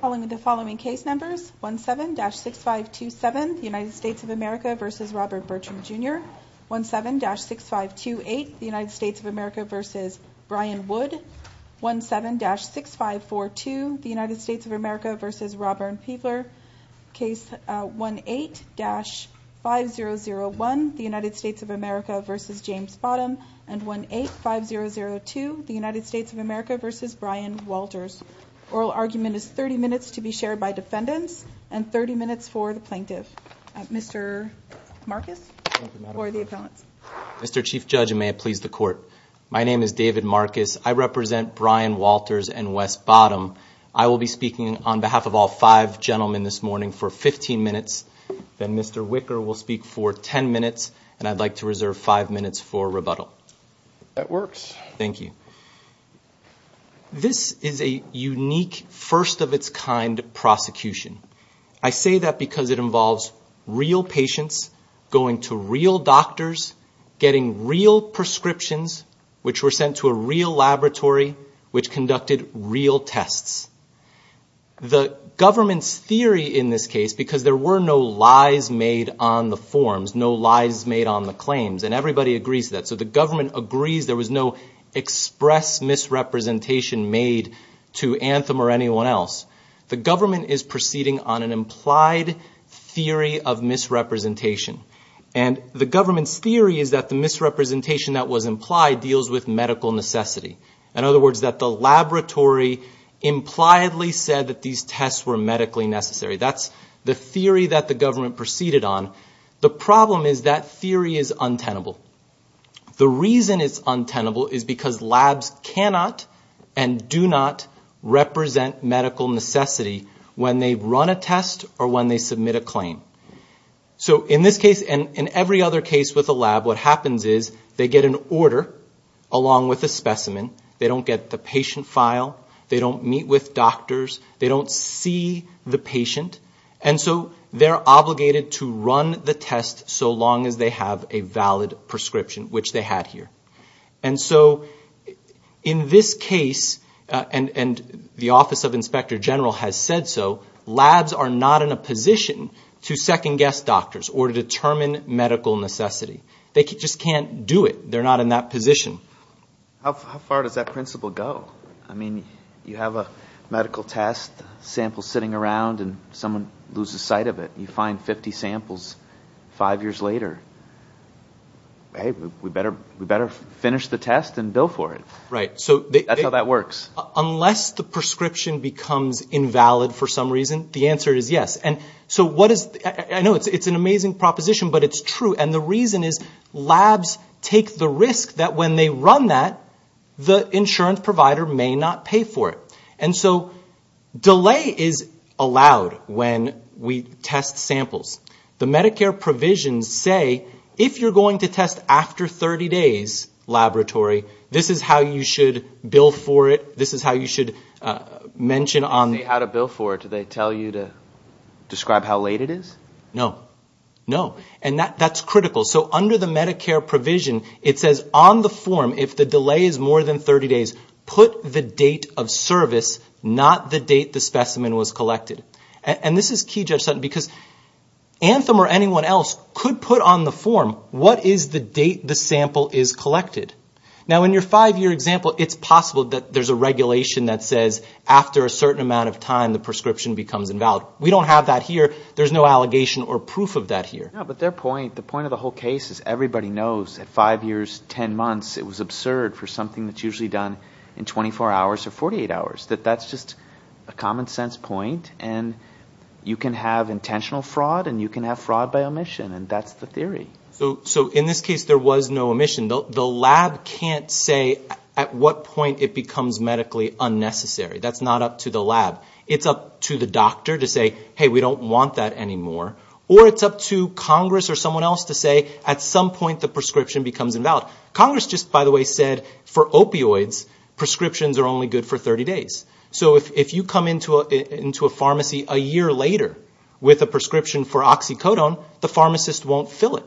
Following the following case numbers 1 7-6 5 2 7 the United States of America vs. Robert Bertram jr 1 7-6 5 2 8 the United States of America vs. Brian Wood 1 7-6 5 4 2 the United States of America vs. Robert Peavler case 1 8-5 0-0 1 the United States of America vs. James Bottom and 1 8 5 0 0 2 the United States of America vs. Brian Walters Oral argument is 30 minutes to be shared by defendants and 30 minutes for the plaintiff. Mr. Marcus Mr. Chief Judge may it please the court. My name is David Marcus. I represent Brian Walters and West bottom I will be speaking on behalf of all five gentlemen this morning for 15 minutes Then mr. Wicker will speak for 10 minutes and I'd like to reserve five minutes for rebuttal that works. Thank you This is a unique first of its kind Prosecution I say that because it involves real patients going to real doctors Getting real prescriptions which were sent to a real laboratory which conducted real tests The government's theory in this case because there were no lies made on the forms No lies made on the claims and everybody agrees that so the government agrees. There was no Express misrepresentation made to anthem or anyone else. The government is proceeding on an implied theory of Misrepresentation and the government's theory is that the misrepresentation that was implied deals with medical necessity. In other words that the laboratory Impliedly said that these tests were medically necessary That's the theory that the government proceeded on the problem is that theory is untenable The reason it's untenable is because labs cannot and do not Represent medical necessity when they run a test or when they submit a claim So in this case and in every other case with a lab, what happens is they get an order along with a specimen They don't get the patient file. They don't meet with doctors They don't see the patient and so they're obligated to run the test so long as they have a valid prescription, which they had here and so In this case and and the Office of Inspector General has said So labs are not in a position to second-guess doctors or to determine medical necessity They just can't do it. They're not in that position How far does that principle go? I mean you have a medical test sample sitting around and someone loses sight of it you find 50 samples five years later Hey, we better we better finish the test and bill for it, right? So that's how that works unless the prescription becomes invalid for some reason The answer is yes, and so what is I know it's it's an amazing proposition but it's true and the reason is labs take the risk that when they run that the Insurance provider may not pay for it. And so Delay is allowed when we test samples the Medicare provisions say if you're going to test after 30 days Laboratory, this is how you should bill for it. This is how you should Mention on the how to bill for it. Do they tell you to No, no and that that's critical so under the Medicare provision It says on the form if the delay is more than 30 days put the date of service not the date the specimen was collected and this is key judge Sutton because Anthem or anyone else could put on the form. What is the date the sample is collected now in your five-year example? It's possible that there's a regulation that says after a certain amount of time the prescription becomes invalid We don't have that here. There's no allegation or proof of that here But their point the point of the whole case is everybody knows at five years ten months it was absurd for something that's usually done in 24 hours or 48 hours that that's just a common-sense point and You can have intentional fraud and you can have fraud by omission and that's the theory So so in this case, there was no omission though. The lab can't say at what point it becomes medically unnecessary That's not up to the lab. It's up to the doctor to say hey We don't want that anymore or it's up to Congress or someone else to say at some point the prescription becomes invalid Congress Just by the way said for opioids Prescriptions are only good for 30 days So if you come into a into a pharmacy a year later with a prescription for oxycodone the pharmacist won't fill it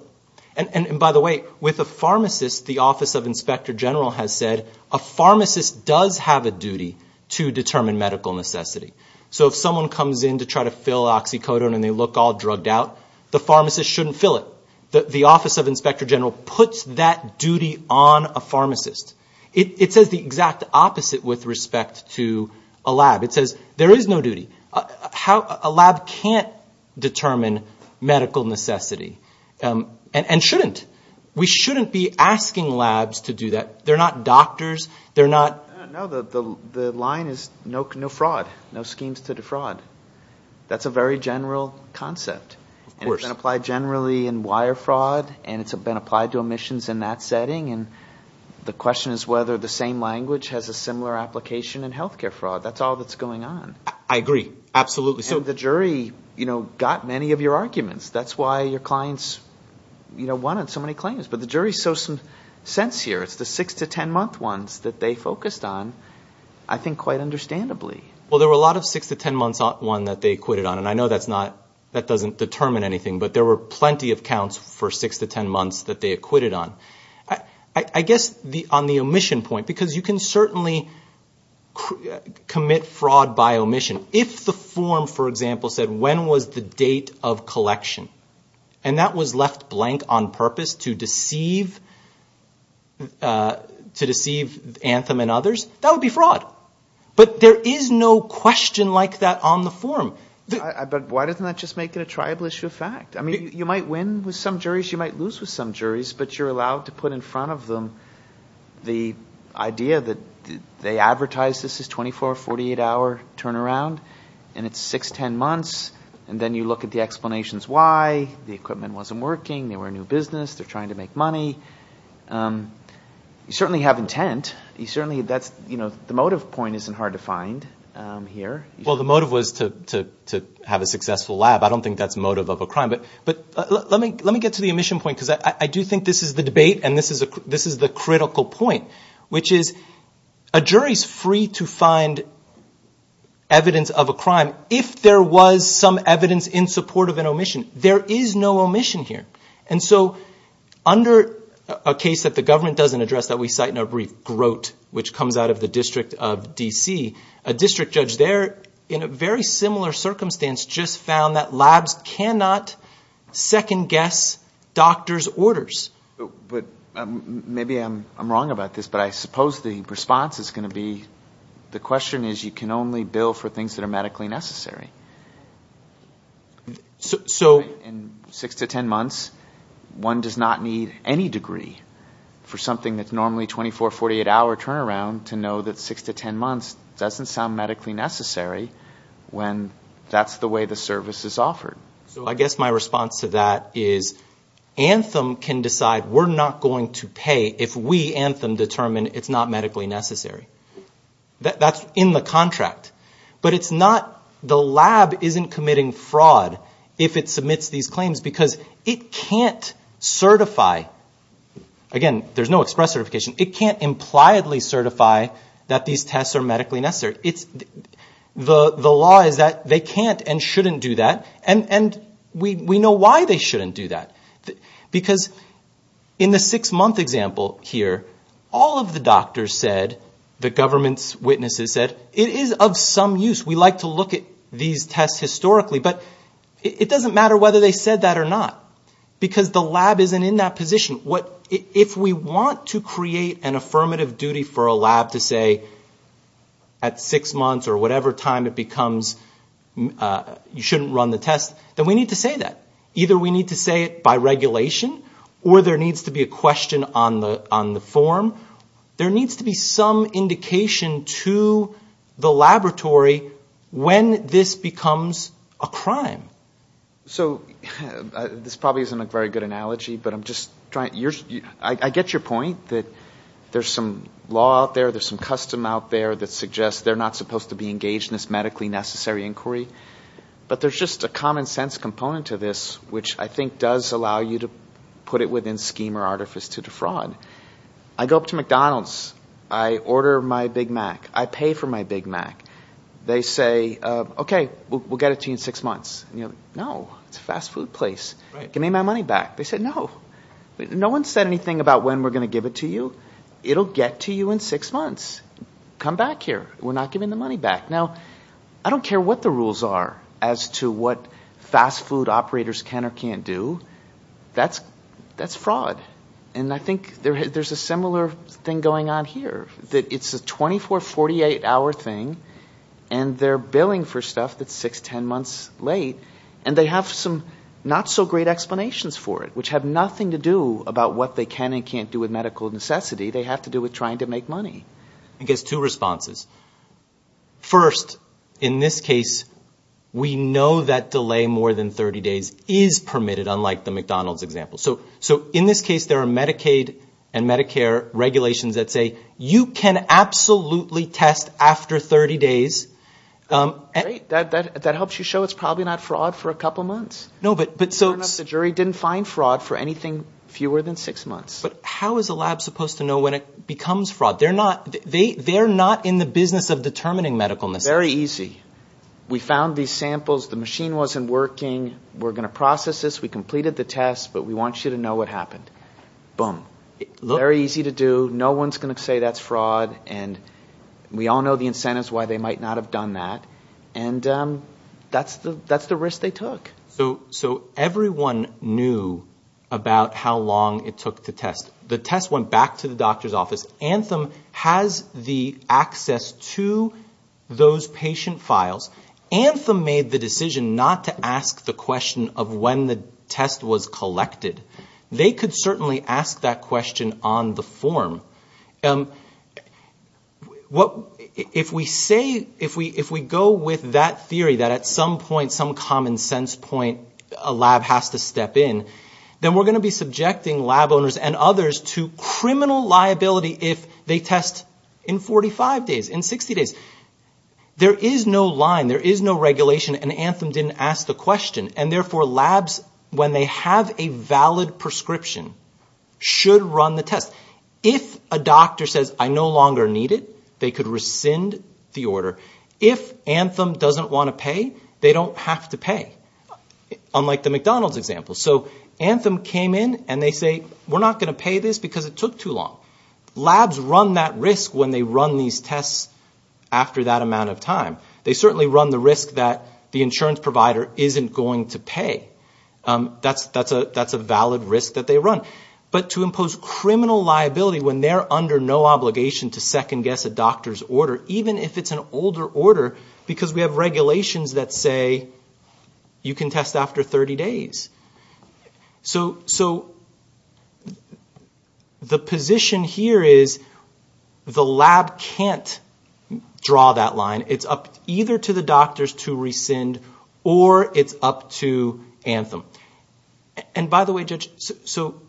and and by the way with a pharmacist the Office of Inspector General has said a Determine medical necessity So if someone comes in to try to fill oxycodone and they look all drugged out The pharmacist shouldn't fill it that the Office of Inspector General puts that duty on a pharmacist It says the exact opposite with respect to a lab. It says there is no duty How a lab can't determine medical necessity and and shouldn't we shouldn't be? Asking labs to do that. They're not doctors. They're not The line is no no fraud no schemes to defraud That's a very general concept and it's been applied generally in wire fraud and it's been applied to omissions in that setting and The question is whether the same language has a similar application in health care fraud. That's all that's going on I agree. Absolutely. So the jury, you know got many of your arguments. That's why your clients You know wanted so many claims, but the jury so some sense here It's the six to ten month ones that they focused on. I think quite understandably Well, there were a lot of six to ten months on one that they acquitted on and I know that's not that doesn't determine anything But there were plenty of counts for six to ten months that they acquitted on I I guess the on the omission point because you can certainly Commit fraud by omission if the form for example said when was the date of collection and That was left blank on purpose to deceive To deceive anthem and others that would be fraud, but there is no question like that on the form I but why doesn't that just make it a tribal issue of fact? I mean you might win with some juries. You might lose with some juries, but you're allowed to put in front of them the idea that they advertised this is 24 or 48 hour turnaround and it's 6-10 months and Then you look at the explanations. Why the equipment wasn't working. They were a new business. They're trying to make money You certainly have intent you certainly that's you know, the motive point isn't hard to find Here. Well, the motive was to Have a successful lab. I don't think that's motive of a crime But but let me let me get to the omission point because I do think this is the debate and this is a this Is the critical point which is a jury's free to find? Evidence of a crime if there was some evidence in support of an omission. There is no omission here. And so Under a case that the government doesn't address that we cite in a brief groat which comes out of the District of DC a District judge there in a very similar circumstance just found that labs cannot second-guess doctor's orders but Maybe I'm wrong about this, but I suppose the response is going to be The question is you can only bill for things that are medically necessary So in six to ten months One does not need any degree For something that's normally 24 48-hour turnaround to know that six to ten months doesn't sound medically necessary When that's the way the service is offered. So I guess my response to that is Anthem can decide we're not going to pay if we anthem determine it's not medically necessary That's in the contract But it's not the lab isn't committing fraud if it submits these claims because it can't certify Again, there's no express certification. It can't impliedly certify that these tests are medically necessary. It's The the law is that they can't and shouldn't do that and and we we know why they shouldn't do that because in the six-month example here all of the doctors said the government's witnesses said it is of Some use we like to look at these tests historically, but it doesn't matter whether they said that or not Because the lab isn't in that position. What if we want to create an affirmative duty for a lab to say at six months or whatever time it becomes You shouldn't run the test then we need to say that either We need to say it by regulation or there needs to be a question on the on the form There needs to be some indication to The laboratory when this becomes a crime so This probably isn't a very good analogy, but I'm just trying yours. I get your point that there's some law out there There's some custom out there that suggests they're not supposed to be engaged in this medically necessary inquiry But there's just a common-sense component to this which I think does allow you to put it within scheme or artifice to defraud I go up to McDonald's. I Pay for my Big Mac. They say, okay, we'll get it to you in six months, you know, no, it's a fast-food place Give me my money back. They said no No one said anything about when we're gonna give it to you. It'll get to you in six months Come back here. We're not giving the money back now I don't care what the rules are as to what fast food operators can or can't do That's that's fraud and I think there's a similar thing going on here that it's a 24-48 hour thing and They're billing for stuff. That's six ten months late and they have some not so great explanations for it Which have nothing to do about what they can and can't do with medical necessity They have to do with trying to make money I guess two responses first in this case We know that delay more than 30 days is permitted unlike the McDonald's example so so in this case There are Medicaid and Medicare regulations that say you can absolutely test after 30 days That helps you show it's probably not fraud for a couple months No, but but so the jury didn't find fraud for anything fewer than six months But how is the lab supposed to know when it becomes fraud? They're not they they're not in the business of determining medicalness very easy We found these samples the machine wasn't working. We're gonna process this we completed the test, but we want you to know what happened boom, look very easy to do no one's gonna say that's fraud and we all know the incentives why they might not have done that and That's the that's the risk they took so so everyone knew About how long it took to test the test went back to the doctor's office anthem has the access to those patient files Anthem made the decision not to ask the question of when the test was collected They could certainly ask that question on the form What if we say if we if we go with that theory that at some point some common-sense point a lab has to step In then we're going to be subjecting lab owners and others to criminal liability if they test in 45 days in 60 days There is no line There is no regulation and anthem didn't ask the question and therefore labs when they have a valid prescription Should run the test if a doctor says I no longer need it They could rescind the order if anthem doesn't want to pay they don't have to pay Unlike the McDonald's example so anthem came in and they say we're not going to pay this because it took too long Labs run that risk when they run these tests After that amount of time they certainly run the risk that the insurance provider isn't going to pay That's that's a that's a valid risk that they run But to impose criminal liability when they're under no obligation to second-guess a doctor's order even if it's an older order Because we have regulations that say You can test after 30 days so so The position here is The lab can't Draw that line. It's up either to the doctors to rescind or it's up to anthem And by the way judge so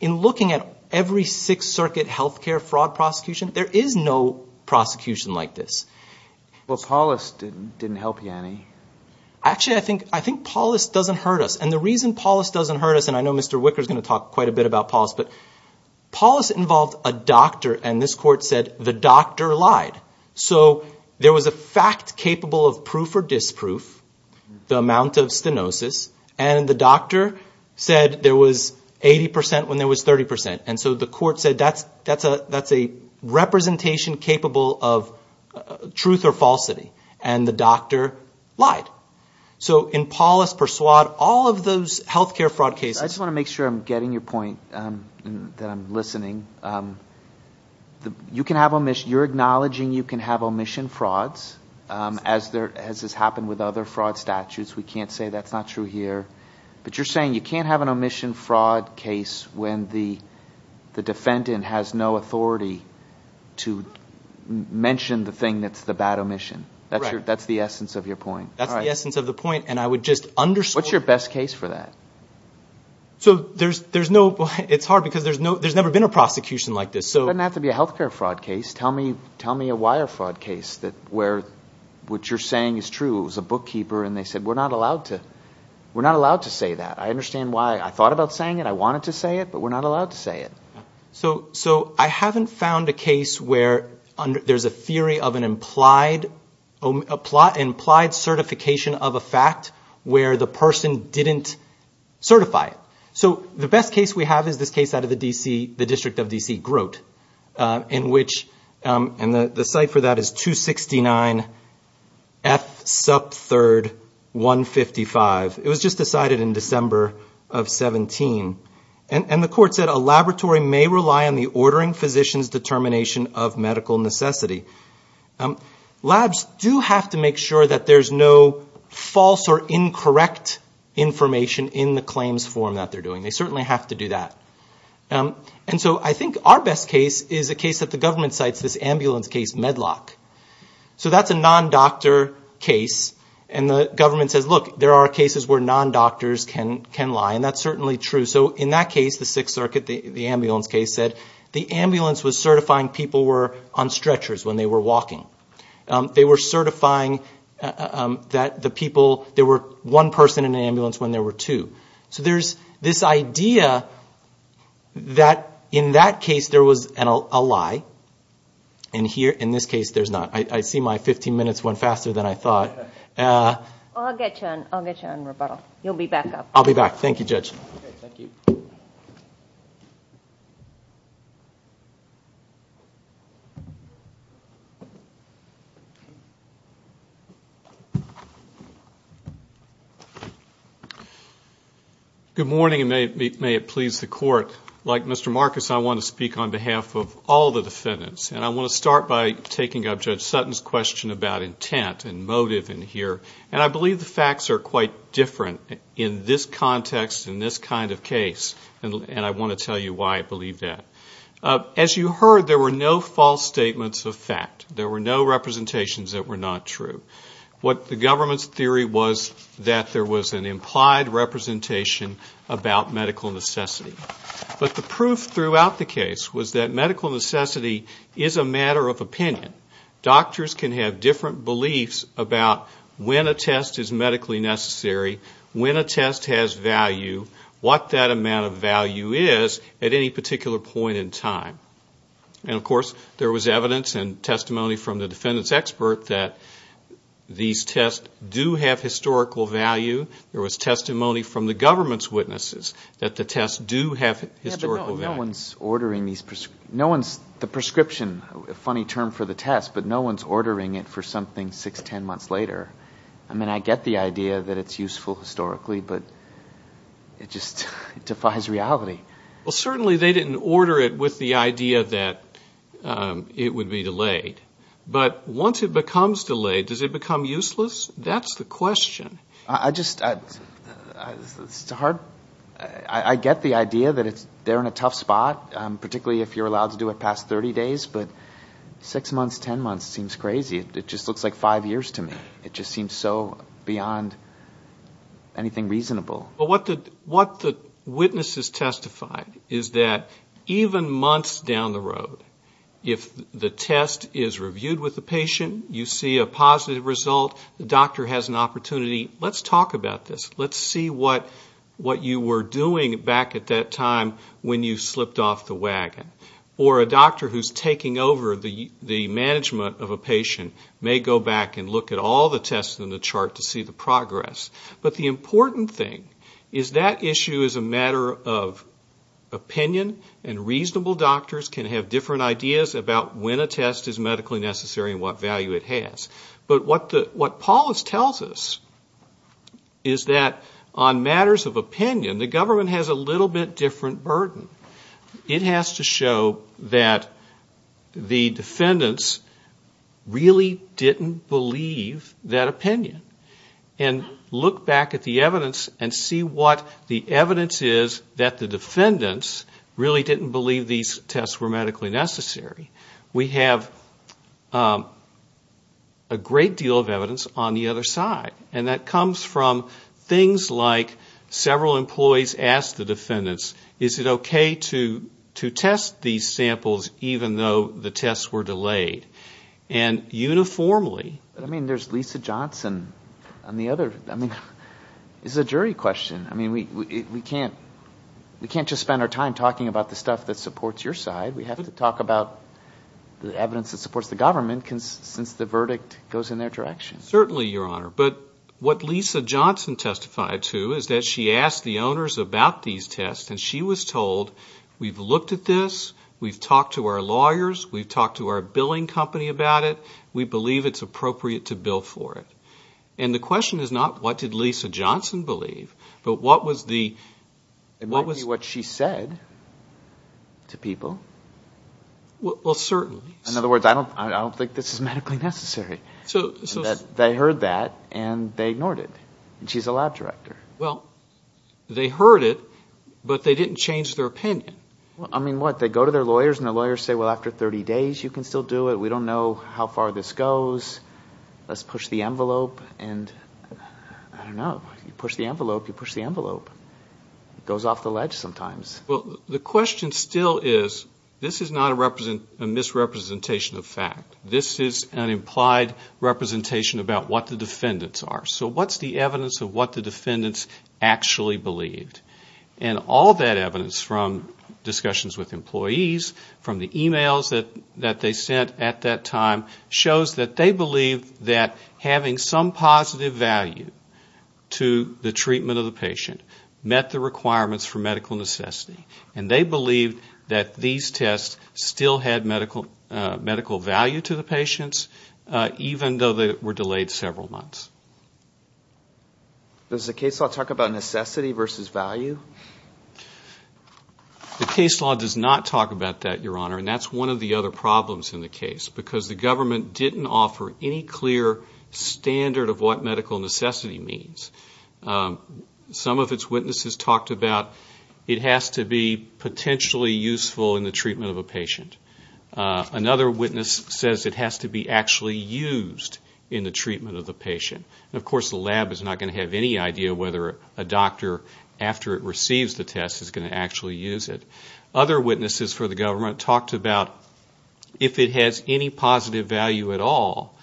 in looking at every Sixth Circuit health care fraud prosecution. There is no Prosecution like this. Well Paulist didn't didn't help you any Actually, I think I think Paulist doesn't hurt us and the reason Paulist doesn't hurt us and I know mr wicker is going to talk quite a bit about Paulist, but Paulist involved a doctor and this court said the doctor lied. So there was a fact capable of proof-or-disproof the amount of stenosis and the doctor said there was 80% when there was 30% and so the court said that's that's a representation capable of Truth or falsity and the doctor lied. So in Paulist Persuade all of those health care fraud cases I just want to make sure I'm getting your point That I'm listening The you can have a mission you're acknowledging you can have omission frauds As there has this happened with other fraud statutes. We can't say that's not true here but you're saying you can't have an omission fraud case when the defendant has no authority to Mention the thing that's the bad omission. That's your that's the essence of your point That's the essence of the point and I would just under what's your best case for that So there's there's no it's hard because there's no there's never been a prosecution like this So I'm not to be a health care fraud case Tell me tell me a wire fraud case that where what you're saying is true It was a bookkeeper and they said we're not allowed to we're not allowed to say that I understand why I thought about saying it. I wanted to say it, but we're not allowed to say it So so I haven't found a case where under there's a theory of an implied Implied certification of a fact where the person didn't Certify it. So the best case we have is this case out of the DC the District of DC groat in which and the the site for that is 269 F sub 3rd 155 it was just decided in December of 17 and and the court said a laboratory may rely on the ordering physicians determination of medical necessity Um labs do have to make sure that there's no false or incorrect Information in the claims form that they're doing they certainly have to do that And so I think our best case is a case that the government cites this ambulance case medlock So that's a non doctor case and the government says look there are cases where non doctors can can lie and that's certainly true so in that case the Sixth Circuit the Walking they were certifying That the people there were one person in the ambulance when there were two so there's this idea that in that case there was an ally and Here in this case. There's not I see my 15 minutes went faster than I thought You'll be back up I'll be back. Thank you judge Good Morning and may it please the court like mr. Marcus I want to speak on behalf of all the defendants and I want to start by taking up judge Sutton's question about intent and motive in here And I believe the facts are quite different in this context in this kind of case And I want to tell you why I believe that As you heard there were no false statements of fact there were no representations that were not true What the government's theory was that there was an implied? Representation about medical necessity, but the proof throughout the case was that medical necessity is a matter of opinion Doctors can have different beliefs about when a test is medically necessary When a test has value what that amount of value is at any particular point in time and of course there was evidence and testimony from the defendants expert that These tests do have historical value there was testimony from the government's witnesses that the tests do have No one's ordering these no one's the prescription a funny term for the test But no one's ordering it for something six ten months later I mean I get the idea that it's useful historically, but It just defies reality well certainly they didn't order it with the idea that It would be delayed, but once it becomes delayed does it become useless. That's the question I just Start I Get the idea that it's there in a tough spot particularly if you're allowed to do it past 30 days, but Six months ten months seems crazy. It just looks like five years to me. It just seems so beyond Anything reasonable, but what did what the witnesses testified is that even months down the road? If the test is reviewed with the patient you see a positive result the doctor has an opportunity Let's talk about this Let's see what what you were doing back at that time when you slipped off the wagon Or a doctor who's taking over the the management of a patient may go back and look at all the tests in the chart to see the progress, but the important thing is that issue is a matter of Opinion and reasonable doctors can have different ideas about when a test is medically necessary and what value it has But what the what Paul is tells us is That on matters of opinion the government has a little bit different burden It has to show that the defendants really didn't believe that opinion and Look back at the evidence and see what the evidence is that the defendants Really didn't believe these tests were medically necessary. We have a Great deal of evidence on the other side and that comes from things like Several employees asked the defendants. Is it okay to to test these samples even though the tests were delayed and Uniformly, I mean there's Lisa Johnson on the other. I mean is a jury question. I mean we can't We can't just spend our time talking about the stuff that supports your side. We have to talk about The evidence that supports the government can since the verdict goes in their direction certainly your honor But what Lisa Johnson testified to is that she asked the owners about these tests and she was told we've looked at this We've talked to our lawyers. We've talked to our billing company about it We believe it's appropriate to bill for it. And the question is not what did Lisa Johnson believe? But what was the It might be what she said to people Well, certainly in other words, I don't I don't think this is medically necessary So they heard that and they ignored it and she's a lab director. Well They heard it, but they didn't change their opinion Well, I mean what they go to their lawyers and the lawyers say well after 30 days you can still do it We don't know how far this goes let's push the envelope and I Don't know you push the envelope you push the envelope It goes off the ledge sometimes well the question still is this is not a represent a misrepresentation of fact This is an implied Representation about what the defendants are. So what's the evidence of what the defendants actually believed and all that evidence from? Discussions with employees from the emails that that they sent at that time shows that they believe that having some positive value To the treatment of the patient met the requirements for medical necessity and they believed that these tests Still had medical medical value to the patients Even though they were delayed several months Does the case I'll talk about necessity versus value The case law does not talk about that your honor and that's one of the other problems in the case because the government didn't offer any clear Standard of what medical necessity means Some of its witnesses talked about it has to be potentially useful in the treatment of a patient Another witness says it has to be actually used in the treatment of the patient And of course the lab is not going to have any idea whether a doctor After it receives the test is going to actually use it other witnesses for the government talked about If it has any positive value at all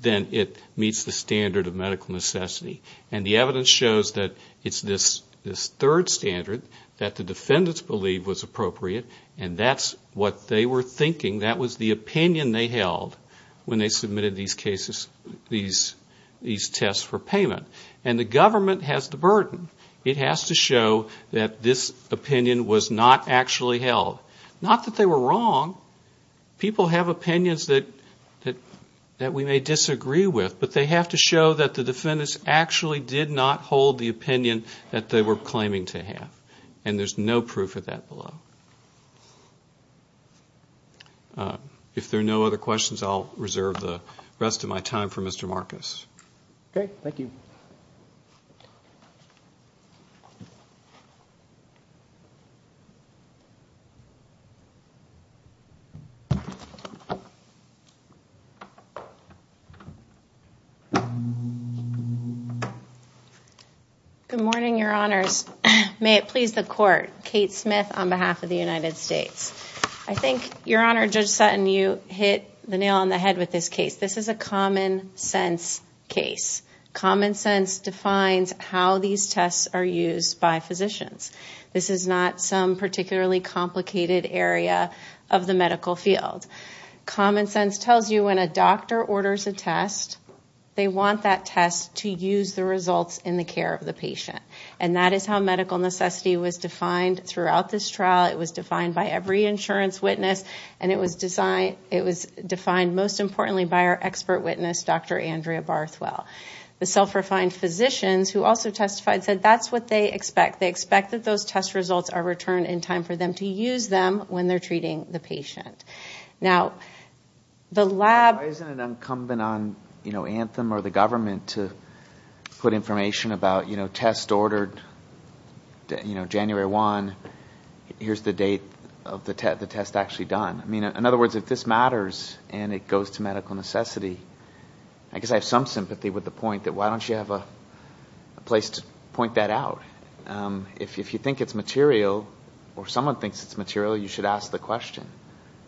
Then it meets the standard of medical necessity and the evidence shows that it's this this third Standard that the defendants believe was appropriate and that's what they were thinking that was the opinion they held when they submitted these cases these These tests for payment and the government has the burden it has to show that this Opinion was not actually held not that they were wrong People have opinions that that that we may disagree with but they have to show that the defendants actually did not hold the Opinion that they were claiming to have and there's no proof of that below If there are no other questions, I'll reserve the rest of my time for mr. Marcus, okay. Thank you Good Morning your honors. May it please the court Kate Smith on behalf of the United States I think your honor judge Sutton you hit the nail on the head with this case. This is a common-sense Case common-sense defines how these tests are used by physicians This is not some particularly complicated area of the medical field Common-sense tells you when a doctor orders a test They want that test to use the results in the care of the patient and that is how medical necessity was defined Throughout this trial. It was defined by every insurance witness and it was designed. It was defined most importantly by our expert witness Dr. Andrea Barth well, the self-refined physicians who also testified said that's what they expect They expect that those test results are returned in time for them to use them when they're treating the patient now The lab is an incumbent on, you know anthem or the government to put information about you know test ordered You know January one Here's the date of the test the test actually done. I mean in other words if this matters and it goes to medical necessity I guess I have some sympathy with the point that why don't you have a place to point that out If you think it's material or someone thinks it's material you should ask the question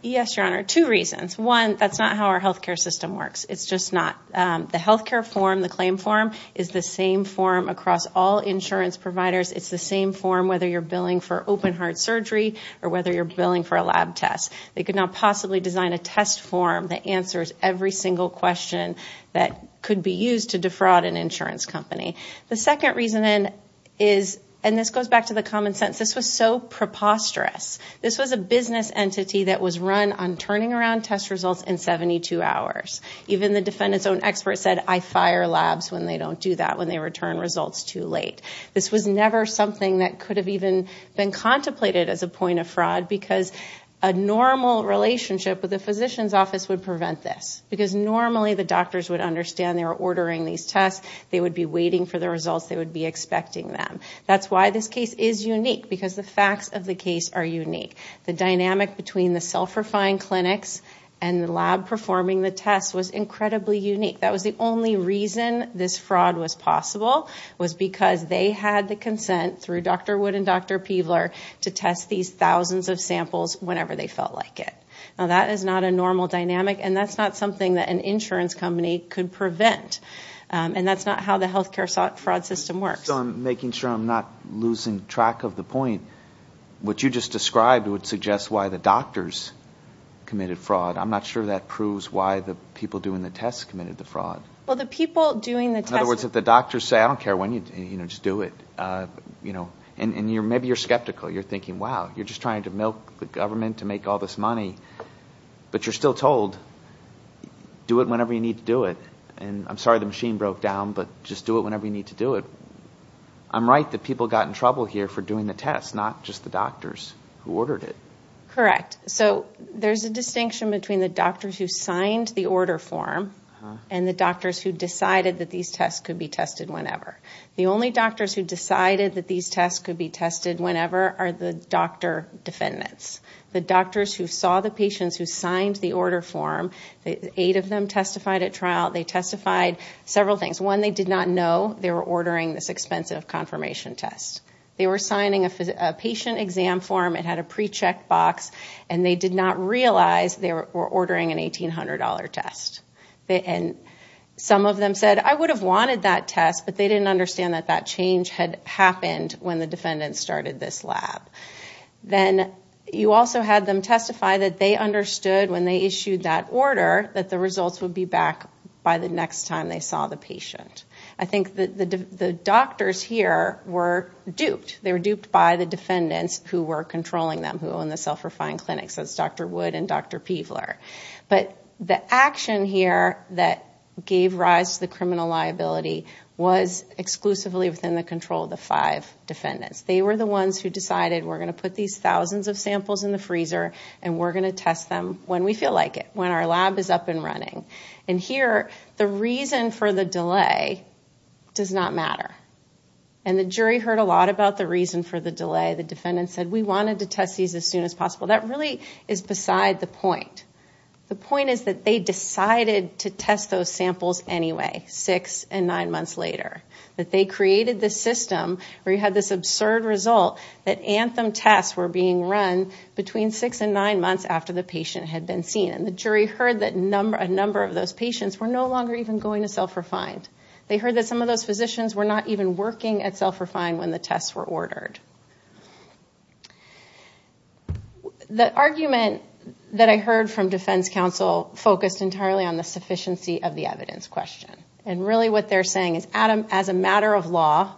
Yes, your honor two reasons one. That's not how our health care system works It's just not the health care form the claim form is the same form across all insurance providers It's the same form whether you're billing for open-heart surgery or whether you're billing for a lab test They could not possibly design a test form that answers every single question That could be used to defraud an insurance company The second reason then is and this goes back to the common sense. This was so preposterous This was a business entity that was run on turning around test results in 72 hours Even the defendants own expert said I fire labs when they don't do that when they return results too late this was never something that could have even been contemplated as a point of fraud because a Normal relationship with the physician's office would prevent this because normally the doctors would understand they were ordering these tests They would be waiting for the results. They would be expecting them That's why this case is unique because the facts of the case are unique the dynamic between the self-refined clinics and the lab Performing the test was incredibly unique. That was the only reason this fraud was possible was because they had the consent through Dr. Wood and dr. Peebler to test these thousands of samples whenever they felt like it now That is not a normal dynamic and that's not something that an insurance company could prevent And that's not how the health care sought fraud system works. I'm making sure I'm not losing track of the point What you just described would suggest why the doctors? Committed fraud. I'm not sure that proves why the people doing the tests committed the fraud Well the people doing the other words if the doctors say I don't care when you you know, just do it You know and you're maybe you're skeptical. You're thinking wow, you're just trying to milk the government to make all this money But you're still told Do it whenever you need to do it, and I'm sorry the machine broke down, but just do it whenever you need to do it I'm right that people got in trouble here for doing the test not just the doctors who ordered it, correct? So there's a distinction between the doctors who signed the order form and the doctors who decided that these tests could be tested Whenever the only doctors who decided that these tests could be tested whenever are the doctor Defendants the doctors who saw the patients who signed the order form the eight of them testified at trial they testified Several things when they did not know they were ordering this expensive confirmation test They were signing a patient exam form it had a pre-checked box And they did not realize they were ordering an $1,800 test They and some of them said I would have wanted that test But they didn't understand that that change had happened when the defendants started this lab Then you also had them testify that they understood when they issued that order that the results would be back By the next time they saw the patient I think that the doctors here were duped they were duped by the defendants who were controlling them who own the self-refined Clinics as dr. Wood and dr. Peevler But the action here that gave rise to the criminal liability was Exclusively within the control of the five Defendants they were the ones who decided we're going to put these thousands of samples in the freezer And we're going to test them when we feel like it when our lab is up and running and here the reason for the delay does not matter and The jury heard a lot about the reason for the delay the defendants said we wanted to test these as soon as possible that really Is beside the point the point is that they decided to test those samples anyway six and nine months later That they created this system where you had this absurd result that anthem tests were being run Between six and nine months after the patient had been seen and the jury heard that number a number of those patients were no longer even Going to self-refined they heard that some of those physicians were not even working at self-refined when the tests were ordered The argument that I heard from defense counsel focused entirely on the sufficiency of the evidence question and really what they're saying is as a matter of law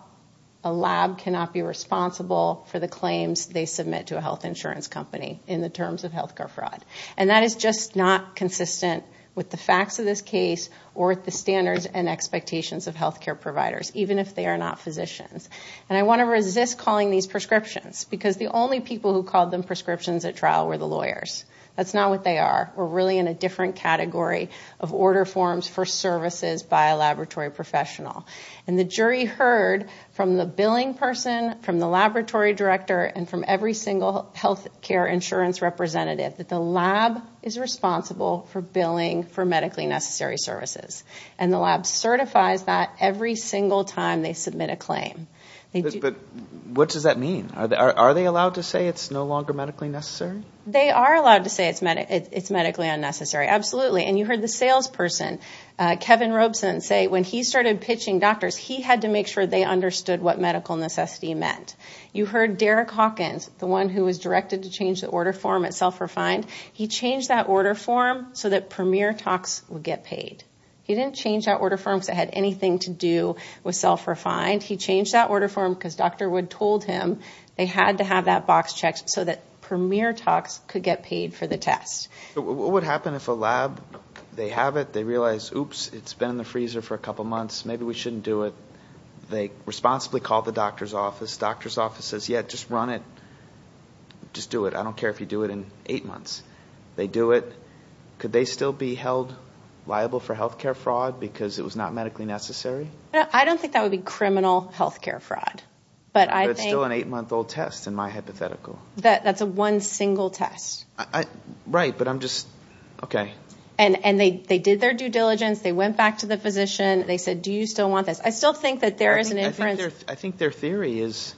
a Lab cannot be responsible for the claims They submit to a health insurance company in the terms of health care fraud and that is just not Consistent with the facts of this case or at the standards and expectations of health care providers Even if they are not physicians And I want to resist calling these prescriptions because the only people who called them prescriptions at trial were the lawyers That's not what they are. We're really in a different category of order forms for services by a laboratory professional And the jury heard from the billing person from the laboratory director and from every single health care insurance representative that the lab is Responsible for billing for medically necessary services and the lab certifies that every single time they submit a claim What does that mean? Are they allowed to say it's no longer medically necessary. They are allowed to say it's meant It's medically unnecessary. Absolutely, and you heard the salesperson Kevin Robeson say when he started pitching doctors He had to make sure they understood what medical necessity meant You heard Derek Hawkins the one who was directed to change the order form at self-refined He changed that order form so that premier talks would get paid He didn't change that order forms that had anything to do with self-refined He changed that order form because dr Wood told him they had to have that box checked so that premier talks could get paid for the test What would happen if a lab they have it they realize oops, it's been in the freezer for a couple months Maybe we shouldn't do it. They responsibly called the doctor's office doctor's office says yet. Just run it Just do it. I don't care if you do it in eight months. They do it Could they still be held liable for health care fraud because it was not medically necessary Yeah, I don't think that would be criminal health care fraud But I still an eight month old test in my hypothetical that that's a one single test Right, but I'm just okay and and they they did their due diligence they went back to the physician They said do you still want this? I still think that there is an inference. I think their theory is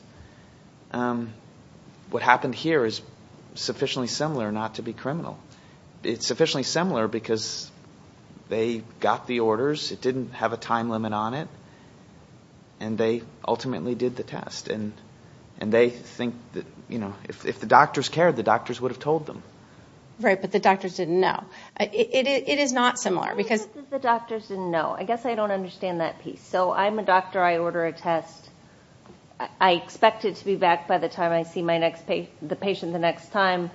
What happened here is sufficiently similar not to be criminal it's sufficiently similar because they got the orders it didn't have a time limit on it and They ultimately did the test and and they think that you know, if the doctors cared the doctors would have told them Right, but the doctors didn't know it is not similar because the doctors didn't know I guess I don't understand that piece So I'm a doctor. I order a test. I Expected to be back by the time I see my next page the patient the next time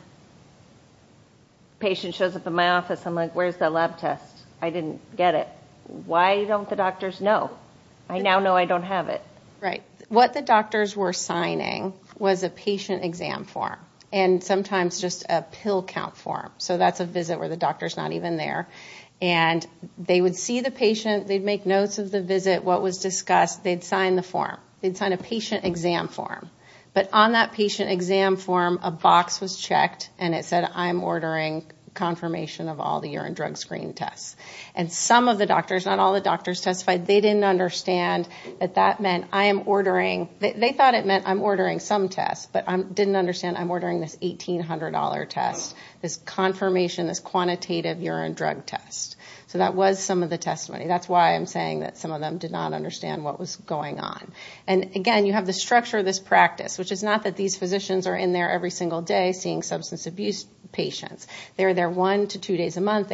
Patient shows up in my office. I'm like, where's the lab test? I didn't get it. Why don't the doctors know? I now know I don't have it What the doctors were signing was a patient exam form and sometimes just a pill count form so that's a visit where the doctor's not even there and They would see the patient they'd make notes of the visit what was discussed. They'd sign the form They'd sign a patient exam form but on that patient exam form a box was checked and it said I'm ordering Confirmation of all the urine drug screen tests and some of the doctors not all the doctors testified They didn't understand that that meant I am ordering they thought it meant I'm ordering some tests, but I'm didn't understand I'm ordering this $1,800 test this confirmation this quantitative urine drug test. So that was some of the testimony That's why I'm saying that some of them did not understand what was going on And again, you have the structure of this practice, which is not that these physicians are in there every single day seeing substance abuse They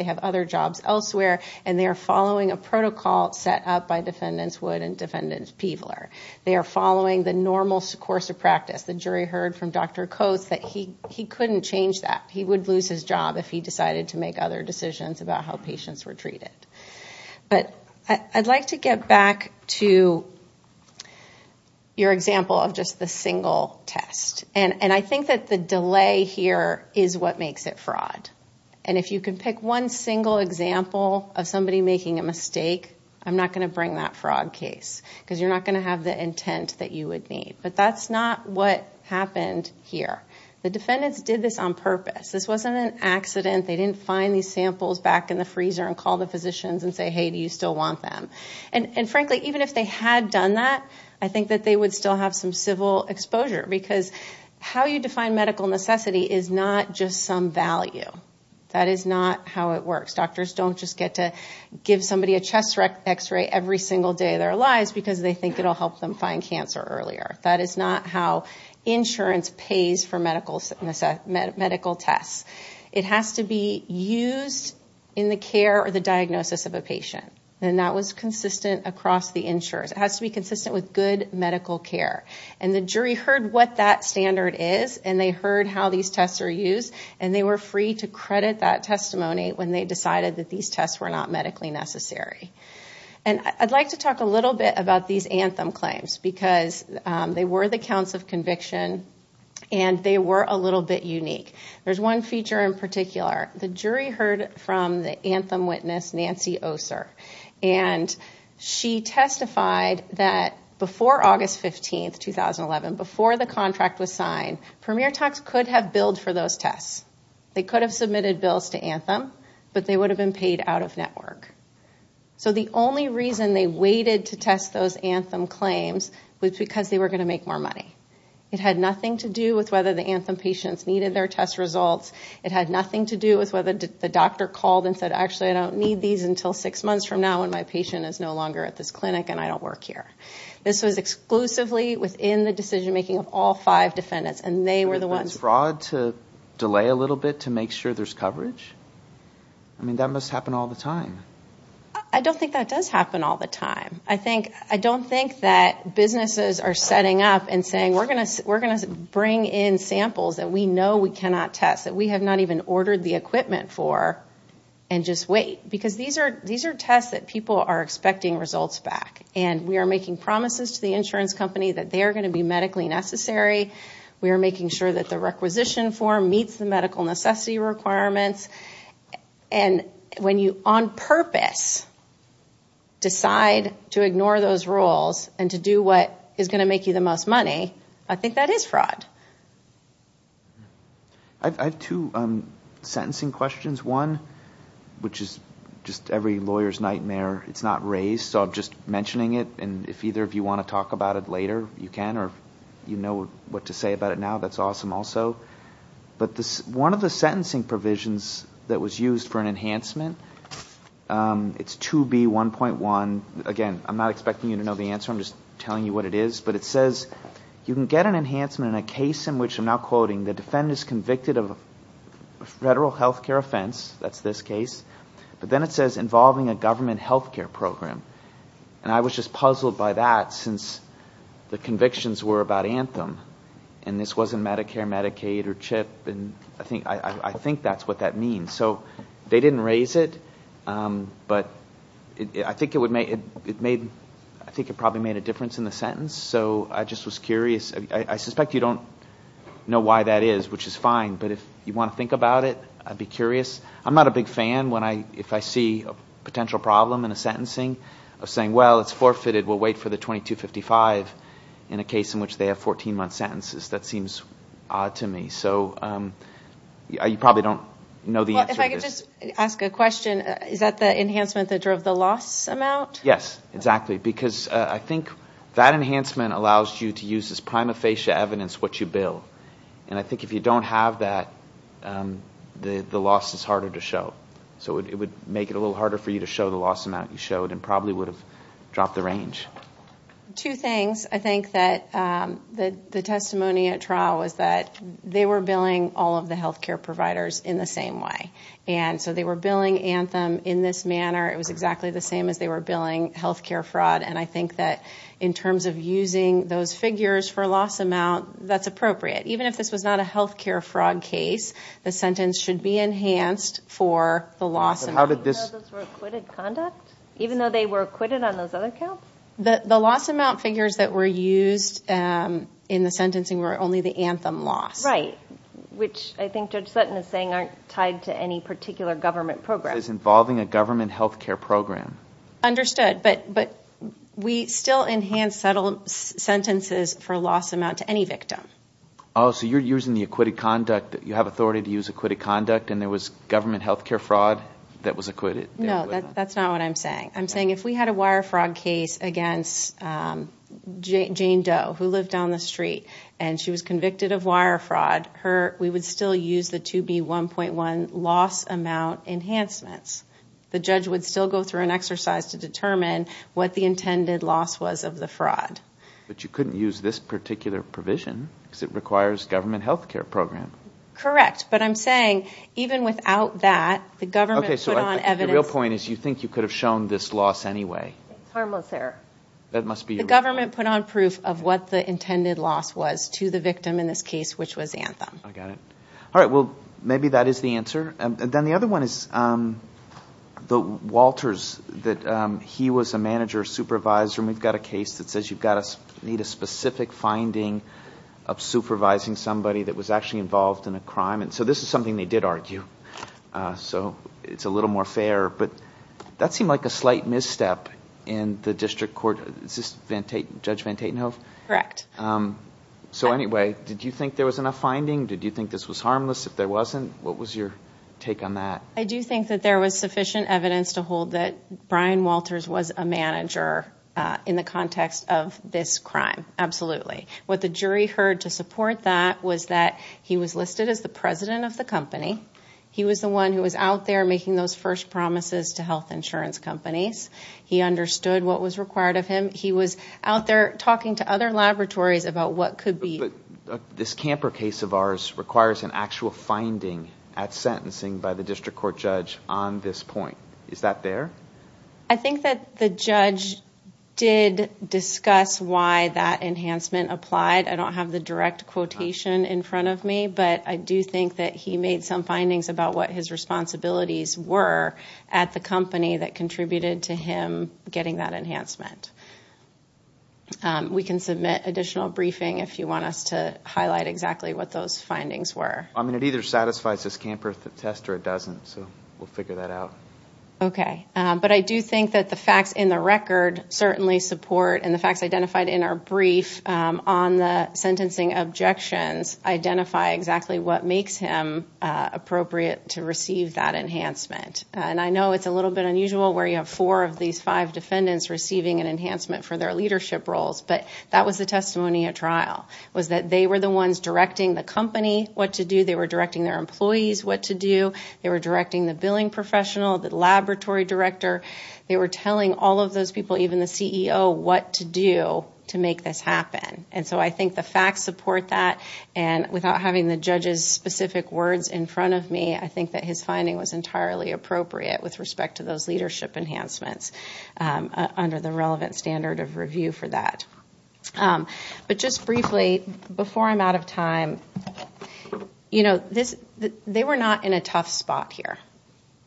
have other jobs elsewhere and they are following a protocol set up by defendants wood and defendants peeveler They are following the normal course of practice the jury heard from dr. Coates that he he couldn't change that He would lose his job if he decided to make other decisions about how patients were treated but I'd like to get back to Your example of just the single test and and I think that the delay here is what makes it fraud And if you can pick one single example of somebody making a mistake I'm not going to bring that fraud case because you're not going to have the intent that you would need but that's not what Happened here. The defendants did this on purpose. This wasn't an accident They didn't find these samples back in the freezer and call the physicians and say hey Do you still want them and and frankly even if they had done that? I think that they would still have some civil exposure because how you define medical necessity is not just some value That is not how it works doctors Don't just get to give somebody a chest x-ray every single day their lives because they think it'll help them find cancer earlier That is not how insurance pays for medical Medical tests it has to be used in the care or the diagnosis of a patient And that was consistent across the insurers It has to be consistent with good When they decided that these tests were not medically necessary and I'd like to talk a little bit about these anthem claims because they were the counts of conviction and They were a little bit unique. There's one feature in particular the jury heard from the anthem witness Nancy Oser and She testified that before August 15th 2011 before the contract was signed premiere talks could have billed for those tests They could have submitted bills to anthem, but they would have been paid out of network So the only reason they waited to test those anthem claims was because they were going to make more money It had nothing to do with whether the anthem patients needed their test results It had nothing to do with whether the doctor called and said actually I don't need these until six months from now when my patient Is no longer at this clinic, and I don't work here This was exclusively within the decision-making of all five defendants, and they were the ones fraud to Delay a little bit to make sure there's coverage. I Mean that must happen all the time. I don't think that does happen all the time I think I don't think that businesses are setting up and saying we're gonna we're gonna bring in samples that we know we cannot test that we have not even ordered the equipment for and Just wait because these are these are tests that people are expecting Results back and we are making promises to the insurance company that they are going to be medically necessary We are making sure that the requisition form meets the medical necessity requirements and when you on purpose Decide to ignore those rules and to do what is going to make you the most money. I think that is fraud I've had two Sentencing questions one Which is just every lawyers nightmare It's not raised so I'm just mentioning it and if either if you want to talk about it later You can or you know what to say about it. Now, that's awesome. Also But this one of the sentencing provisions that was used for an enhancement It's to be one point one again. I'm not expecting you to know the answer I'm just telling you what it is but it says you can get an enhancement in a case in which I'm now quoting the defendant is convicted of a Federal health care offense. That's this case but then it says involving a government health care program and I was just puzzled by that since The convictions were about anthem and this wasn't Medicare Medicaid or chip and I think I think that's what that means So they didn't raise it But I think it would make it made I think it probably made a difference in the sentence So I just was curious. I suspect you don't Know why that is which is fine. But if you want to think about it, I'd be curious I'm not a big fan when I if I see a potential problem in a sentencing of saying well, it's forfeited We'll wait for the 2255 in a case in which they have 14 month sentences. That seems odd to me. So You probably don't know the answer Ask a question. Is that the enhancement that drove the loss amount? Yes, exactly because I think that enhancement allows you to use this prima facie evidence what you bill and I think if you don't have that The the loss is harder to show So it would make it a little harder for you to show the loss amount you showed and probably would have dropped the range two things I think that The the testimony at trial was that they were billing all of the health care providers in the same way And so they were billing anthem in this manner It was exactly the same as they were billing health care fraud And I think that in terms of using those figures for a loss amount that's appropriate Even if this was not a health care fraud case, the sentence should be enhanced for the loss How did this Even though they were acquitted on those other counts the the loss amount figures that were used In the sentencing were only the anthem loss, right? Which I think judge Sutton is saying aren't tied to any particular government program is involving a government health care program understood but but we still enhance settle Sentences for loss amount to any victim. Oh, so you're using the acquitted conduct that you have authority to use acquitted conduct And there was government health care fraud that was acquitted. No, that's not what I'm saying. I'm saying if we had a wire fraud case against Jane Doe who lived down the street and she was convicted of wire fraud her we would still use the to be 1.1 loss amount Enhancements the judge would still go through an exercise to determine what the intended loss was of the fraud But you couldn't use this particular provision because it requires government health care program, correct? But I'm saying even without that the government Okay, so the real point is you think you could have shown this loss anyway harmless there That must be the government put on proof of what the intended loss was to the victim in this case, which was anthem I got it. All right. Well, maybe that is the answer and then the other one is the Walters that he was a manager supervisor and we've got a case that says you've got us need a specific finding of Supervising somebody that was actually involved in a crime. And so this is something they did argue So it's a little more fair, but that seemed like a slight misstep in the district court It's just vent a judge van Tatenhove, correct? So anyway, did you think there was enough finding? Did you think this was harmless if there wasn't what was your take on that? I do think that there was sufficient evidence to hold that Brian Walters was a manager in the context of this crime Absolutely what the jury heard to support that was that he was listed as the president of the company He was the one who was out there making those first promises to health insurance companies He understood what was required of him. He was out there talking to other laboratories about what could be This camper case of ours requires an actual finding at sentencing by the district court judge on this point Judge did discuss why that enhancement applied I don't have the direct quotation in front of me But I do think that he made some findings about what his responsibilities were at the company that contributed to him getting that enhancement We can submit additional briefing if you want us to highlight exactly what those findings were I mean it either satisfies this camper the test or it doesn't so we'll figure that out Okay, but I do think that the facts in the record certainly support and the facts identified in our brief on the sentencing objections identify exactly what makes him Appropriate to receive that enhancement and I know it's a little bit unusual where you have four of these five Defendants receiving an enhancement for their leadership roles But that was the testimony at trial was that they were the ones directing the company what to do They were directing the billing professional the laboratory director They were telling all of those people even the CEO what to do to make this happen And so I think the facts support that and without having the judges specific words in front of me I think that his finding was entirely appropriate with respect to those leadership enhancements Under the relevant standard of review for that But just briefly before I'm out of time You know this they were not in a tough spot here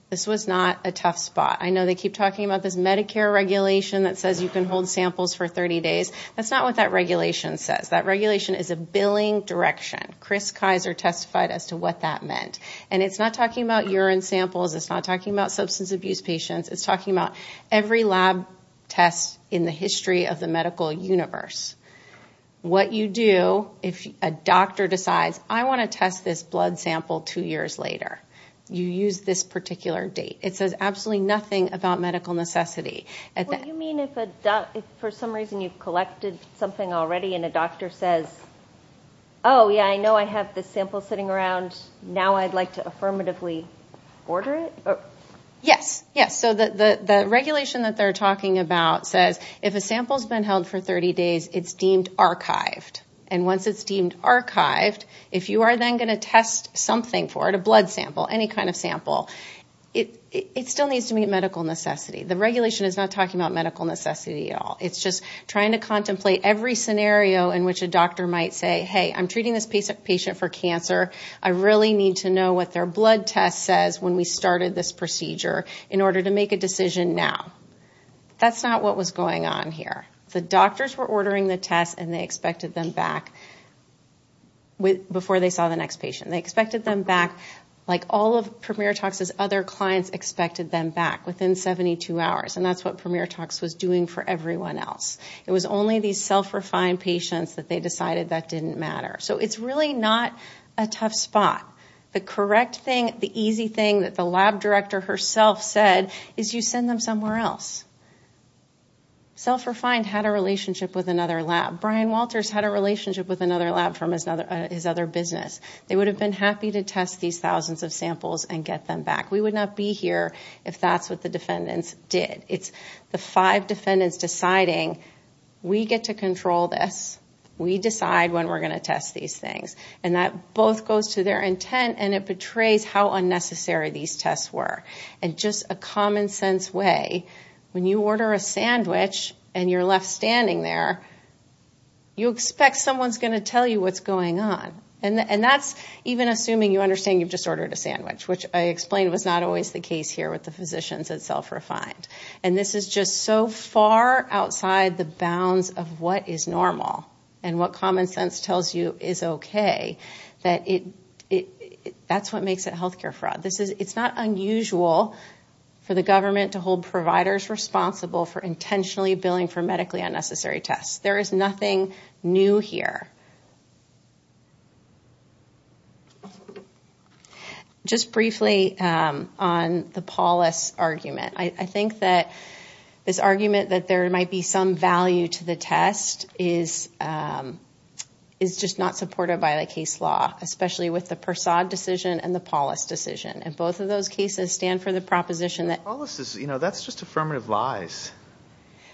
this was not a tough spot I know they keep talking about this Medicare regulation that says you can hold samples for 30 days That's not what that regulation says that regulation is a billing direction Chris Kaiser testified as to what that meant and it's not talking about urine samples. It's not talking about substance abuse patients It's talking about every lab test in the history of the medical universe What you do if a doctor decides I want to test this blood sample two years later You use this particular date. It says absolutely nothing about medical necessity and that you mean if a duck if for some reason you've collected something already and a doctor says oh Yeah, I know. I have this sample sitting around now. I'd like to affirmatively Order it Yes, yes So the the regulation that they're talking about says if a sample has been held for 30 days It's deemed archived and once it's deemed archived if you are then going to test Something for it a blood sample any kind of sample it it still needs to meet medical necessity The regulation is not talking about medical necessity at all It's just trying to contemplate every scenario in which a doctor might say. Hey, I'm treating this patient for cancer I really need to know what their blood test says when we started this procedure in order to make a decision now That's not what was going on here. The doctors were ordering the test and they expected them back With before they saw the next patient they expected them back Like all of premier talks as other clients expected them back within 72 hours And that's what premier talks was doing for everyone else It was only these self-refined patients that they decided that didn't matter So it's really not a tough spot The correct thing the easy thing that the lab director herself said is you send them somewhere else? Self-refined had a relationship with another lab Brian Walters had a relationship with another lab from his other his other business They would have been happy to test these thousands of samples and get them back We would not be here if that's what the defendants did. It's the five defendants deciding We get to control this We decide when we're going to test these things and that both goes to their intent and it betrays how Unnecessary these tests were and just a common-sense way when you order a sandwich and you're left standing there You expect someone's going to tell you what's going on and and that's even assuming you understand You've just ordered a sandwich which I explained was not always the case here with the physicians at self-refined And this is just so far outside the bounds of what is normal and what common sense tells you is okay that it That's what makes it health care fraud. This is it's not unusual For the government to hold providers responsible for intentionally billing for medically unnecessary tests. There is nothing new here Just briefly on The Paulus argument, I think that this argument that there might be some value to the test is Is just not supported by the case law especially with the Persaud decision and the Paulus decision and both of those cases stand for the proposition that all this is you know, That's just affirmative lies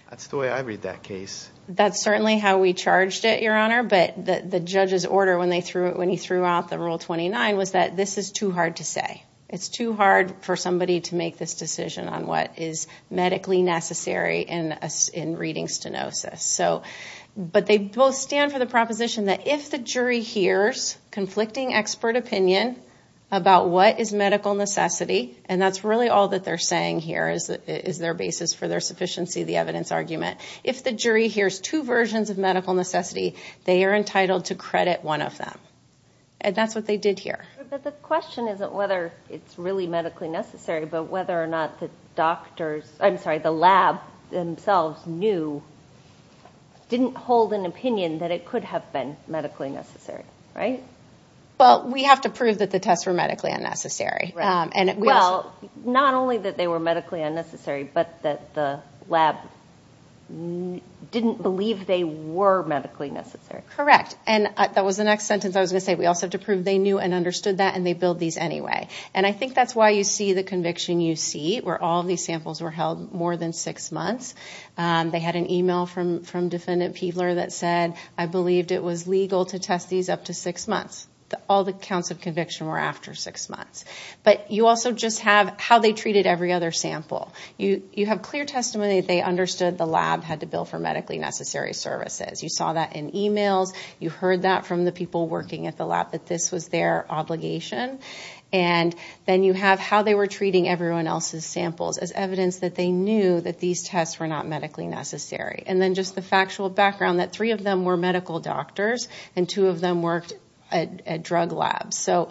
That's the way I read that case That's certainly how we charged it your honor But that the judge's order when they threw it when he threw out the rule 29 was that this is too hard to say It's too hard for somebody to make this decision on what is medically necessary in us in reading stenosis So but they both stand for the proposition that if the jury hears conflicting expert opinion about what is medical necessity and that's really all that they're saying here is that is their basis for their Sufficiency the evidence argument if the jury hears two versions of medical necessity They are entitled to credit one of them and that's what they did here The question isn't whether it's really medically necessary, but whether or not the doctors, I'm sorry the lab themselves knew Didn't hold an opinion that it could have been medically necessary, right? Well, we have to prove that the tests were medically unnecessary and well, not only that they were medically unnecessary But that the lab Didn't believe they were medically necessary correct and that was the next sentence I was gonna say we also have to prove they knew and understood that and they build these anyway And I think that's why you see the conviction you see where all these samples were held more than six months They had an email from from defendant Peebler that said I believed it was legal to test these up to six months All the counts of conviction were after six months, but you also just have how they treated every other sample You you have clear testimony. They understood the lab had to bill for medically necessary services you saw that in emails you heard that from the people working at the lab that this was their obligation and Then you have how they were treating everyone else's samples as evidence that they knew that these tests were not medically necessary And then just the factual background that three of them were medical doctors and two of them worked at drug labs. So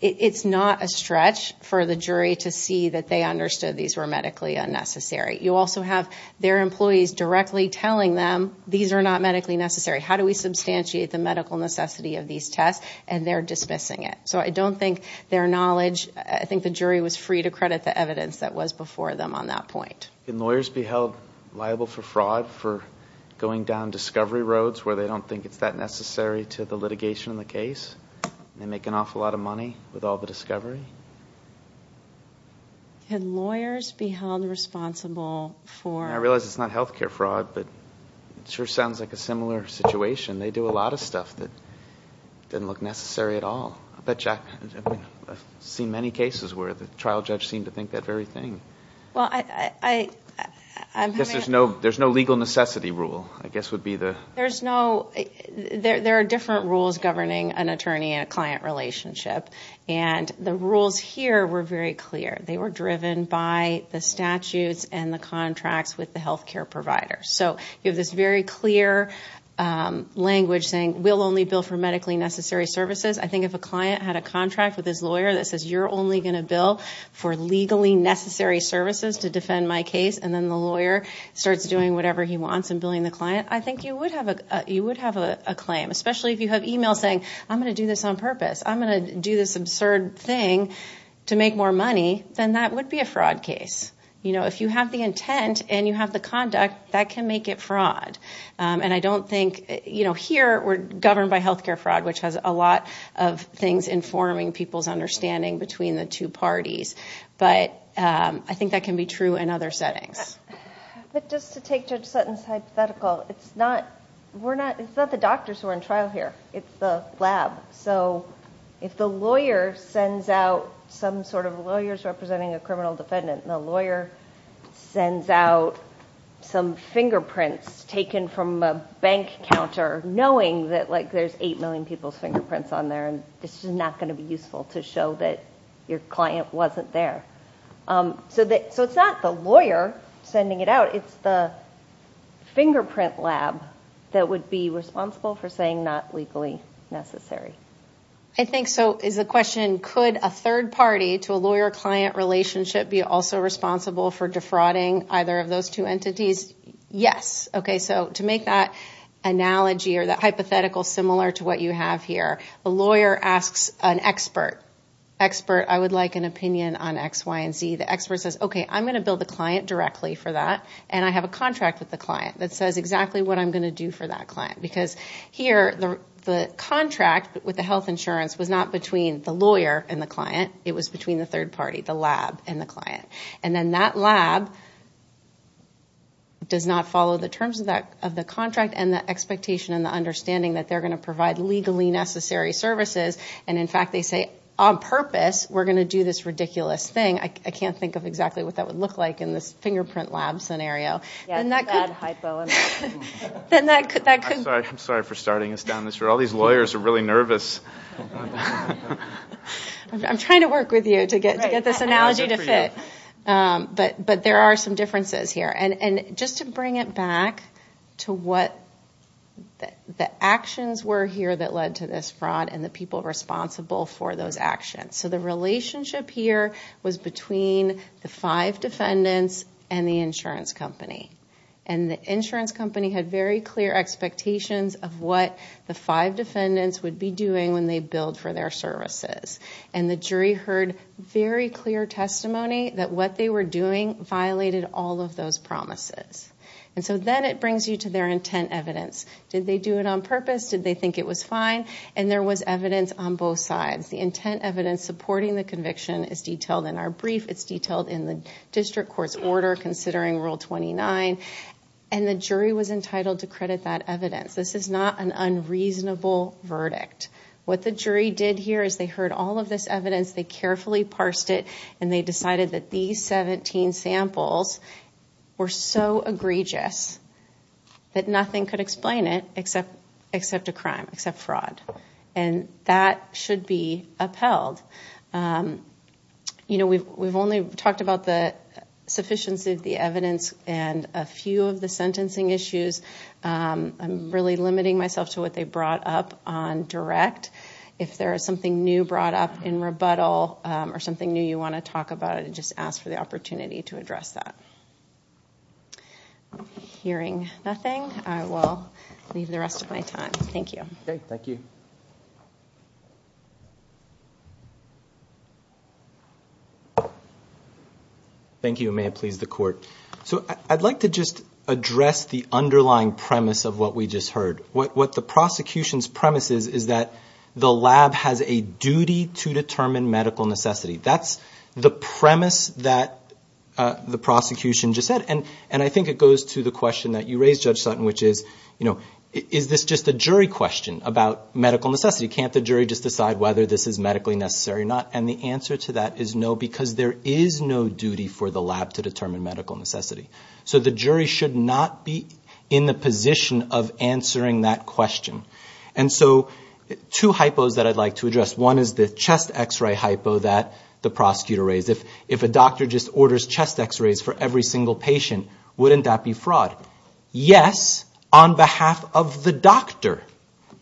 It's not a stretch for the jury to see that they understood these were medically unnecessary You also have their employees directly telling them these are not medically necessary How do we substantiate the medical necessity of these tests and they're dismissing it? So I don't think their knowledge I think the jury was free to credit the evidence that was before them on that point Can lawyers be held liable for fraud for going down discovery roads where they don't think it's that necessary to the litigation in the case They make an awful lot of money with all the discovery And lawyers be held responsible for I realize it's not health care fraud, but Sure sounds like a similar situation. They do a lot of stuff that Didn't look necessary at all. But Jack Seen many cases where the trial judge seemed to think that very thing. Well, I Guess there's no there's no legal necessity rule. I guess would be the there's no There there are different rules governing an attorney and a client relationship And the rules here were very clear They were driven by the statutes and the contracts with the health care provider. So you have this very clear Language saying we'll only bill for medically necessary services I think if a client had a contract with his lawyer that says you're only gonna bill for legally necessary Services to defend my case and then the lawyer starts doing whatever he wants and billing the client I think you would have a you would have a claim especially if you have email saying I'm gonna do this on purpose I'm gonna do this absurd thing to make more money than that would be a fraud case You know if you have the intent and you have the conduct that can make it fraud And I don't think you know here we're governed by health care fraud Which has a lot of things informing people's understanding between the two parties But I think that can be true in other settings But just to take judge Sutton's hypothetical, it's not we're not it's not the doctors who are in trial here. It's the lab. So If the lawyer sends out some sort of lawyers representing a criminal defendant the lawyer sends out Some fingerprints taken from a bank counter knowing that like there's eight million people's fingerprints on there And this is not going to be useful to show that your client wasn't there so that so it's not the lawyer sending it out, it's the Fingerprint lab that would be responsible for saying not legally necessary I think so is the question could a third party to a lawyer-client relationship be also responsible for defrauding Either of those two entities. Yes. Okay, so to make that Analogy or that hypothetical similar to what you have here a lawyer asks an expert Expert I would like an opinion on X Y & Z the expert says, okay I'm gonna build the client directly for that and I have a contract with the client that says exactly what I'm gonna do for that Because here the Contract with the health insurance was not between the lawyer and the client It was between the third party the lab and the client and then that lab Does not follow the terms of that of the contract and the expectation and the understanding that they're going to provide legally necessary Services and in fact, they say on purpose we're gonna do this ridiculous thing I can't think of exactly what that would look like in this fingerprint lab scenario And that could Then that could that could I'm sorry for starting us down this or all these lawyers are really nervous I'm trying to work with you to get this analogy to fit But but there are some differences here and and just to bring it back to what? The actions were here that led to this fraud and the people responsible for those actions So the relationship here was between the five defendants and the insurance company And the insurance company had very clear Expectations of what the five defendants would be doing when they billed for their services and the jury heard Very clear testimony that what they were doing violated all of those promises And so then it brings you to their intent evidence. Did they do it on purpose? Did they think it was fine and there was evidence on both sides the intent evidence supporting the conviction is detailed in our brief It's detailed in the district court's order considering rule 29 and the jury was entitled to credit that evidence This is not an unreasonable Verdict what the jury did here is they heard all of this evidence They carefully parsed it and they decided that these 17 samples Were so egregious That nothing could explain it except except a crime except fraud and that should be upheld You know, we've we've only talked about the sufficiency of the evidence and a few of the sentencing issues I'm really limiting myself to what they brought up on direct if there is something new brought up in rebuttal Or something new you want to talk about it and just ask for the opportunity to address that Hearing nothing I will leave the rest of my time. Thank you. Okay. Thank you Thank You may have pleased the court So I'd like to just address the underlying premise of what we just heard what what the prosecution's premise is Is that the lab has a duty to determine medical necessity? That's the premise that The prosecution just said and and I think it goes to the question that you raised judge Sutton Which is you know, is this just a jury question about medical necessity? Can't the jury just decide whether this is medically necessary? You're not and the answer to that is no because there is no duty for the lab to determine medical necessity so the jury should not be in the position of answering that question and so two hypos that I'd like to address one is the chest x-ray hypo that the prosecutor raised if if a doctor just orders chest x-rays For every single patient wouldn't that be fraud? Yes on behalf of the doctor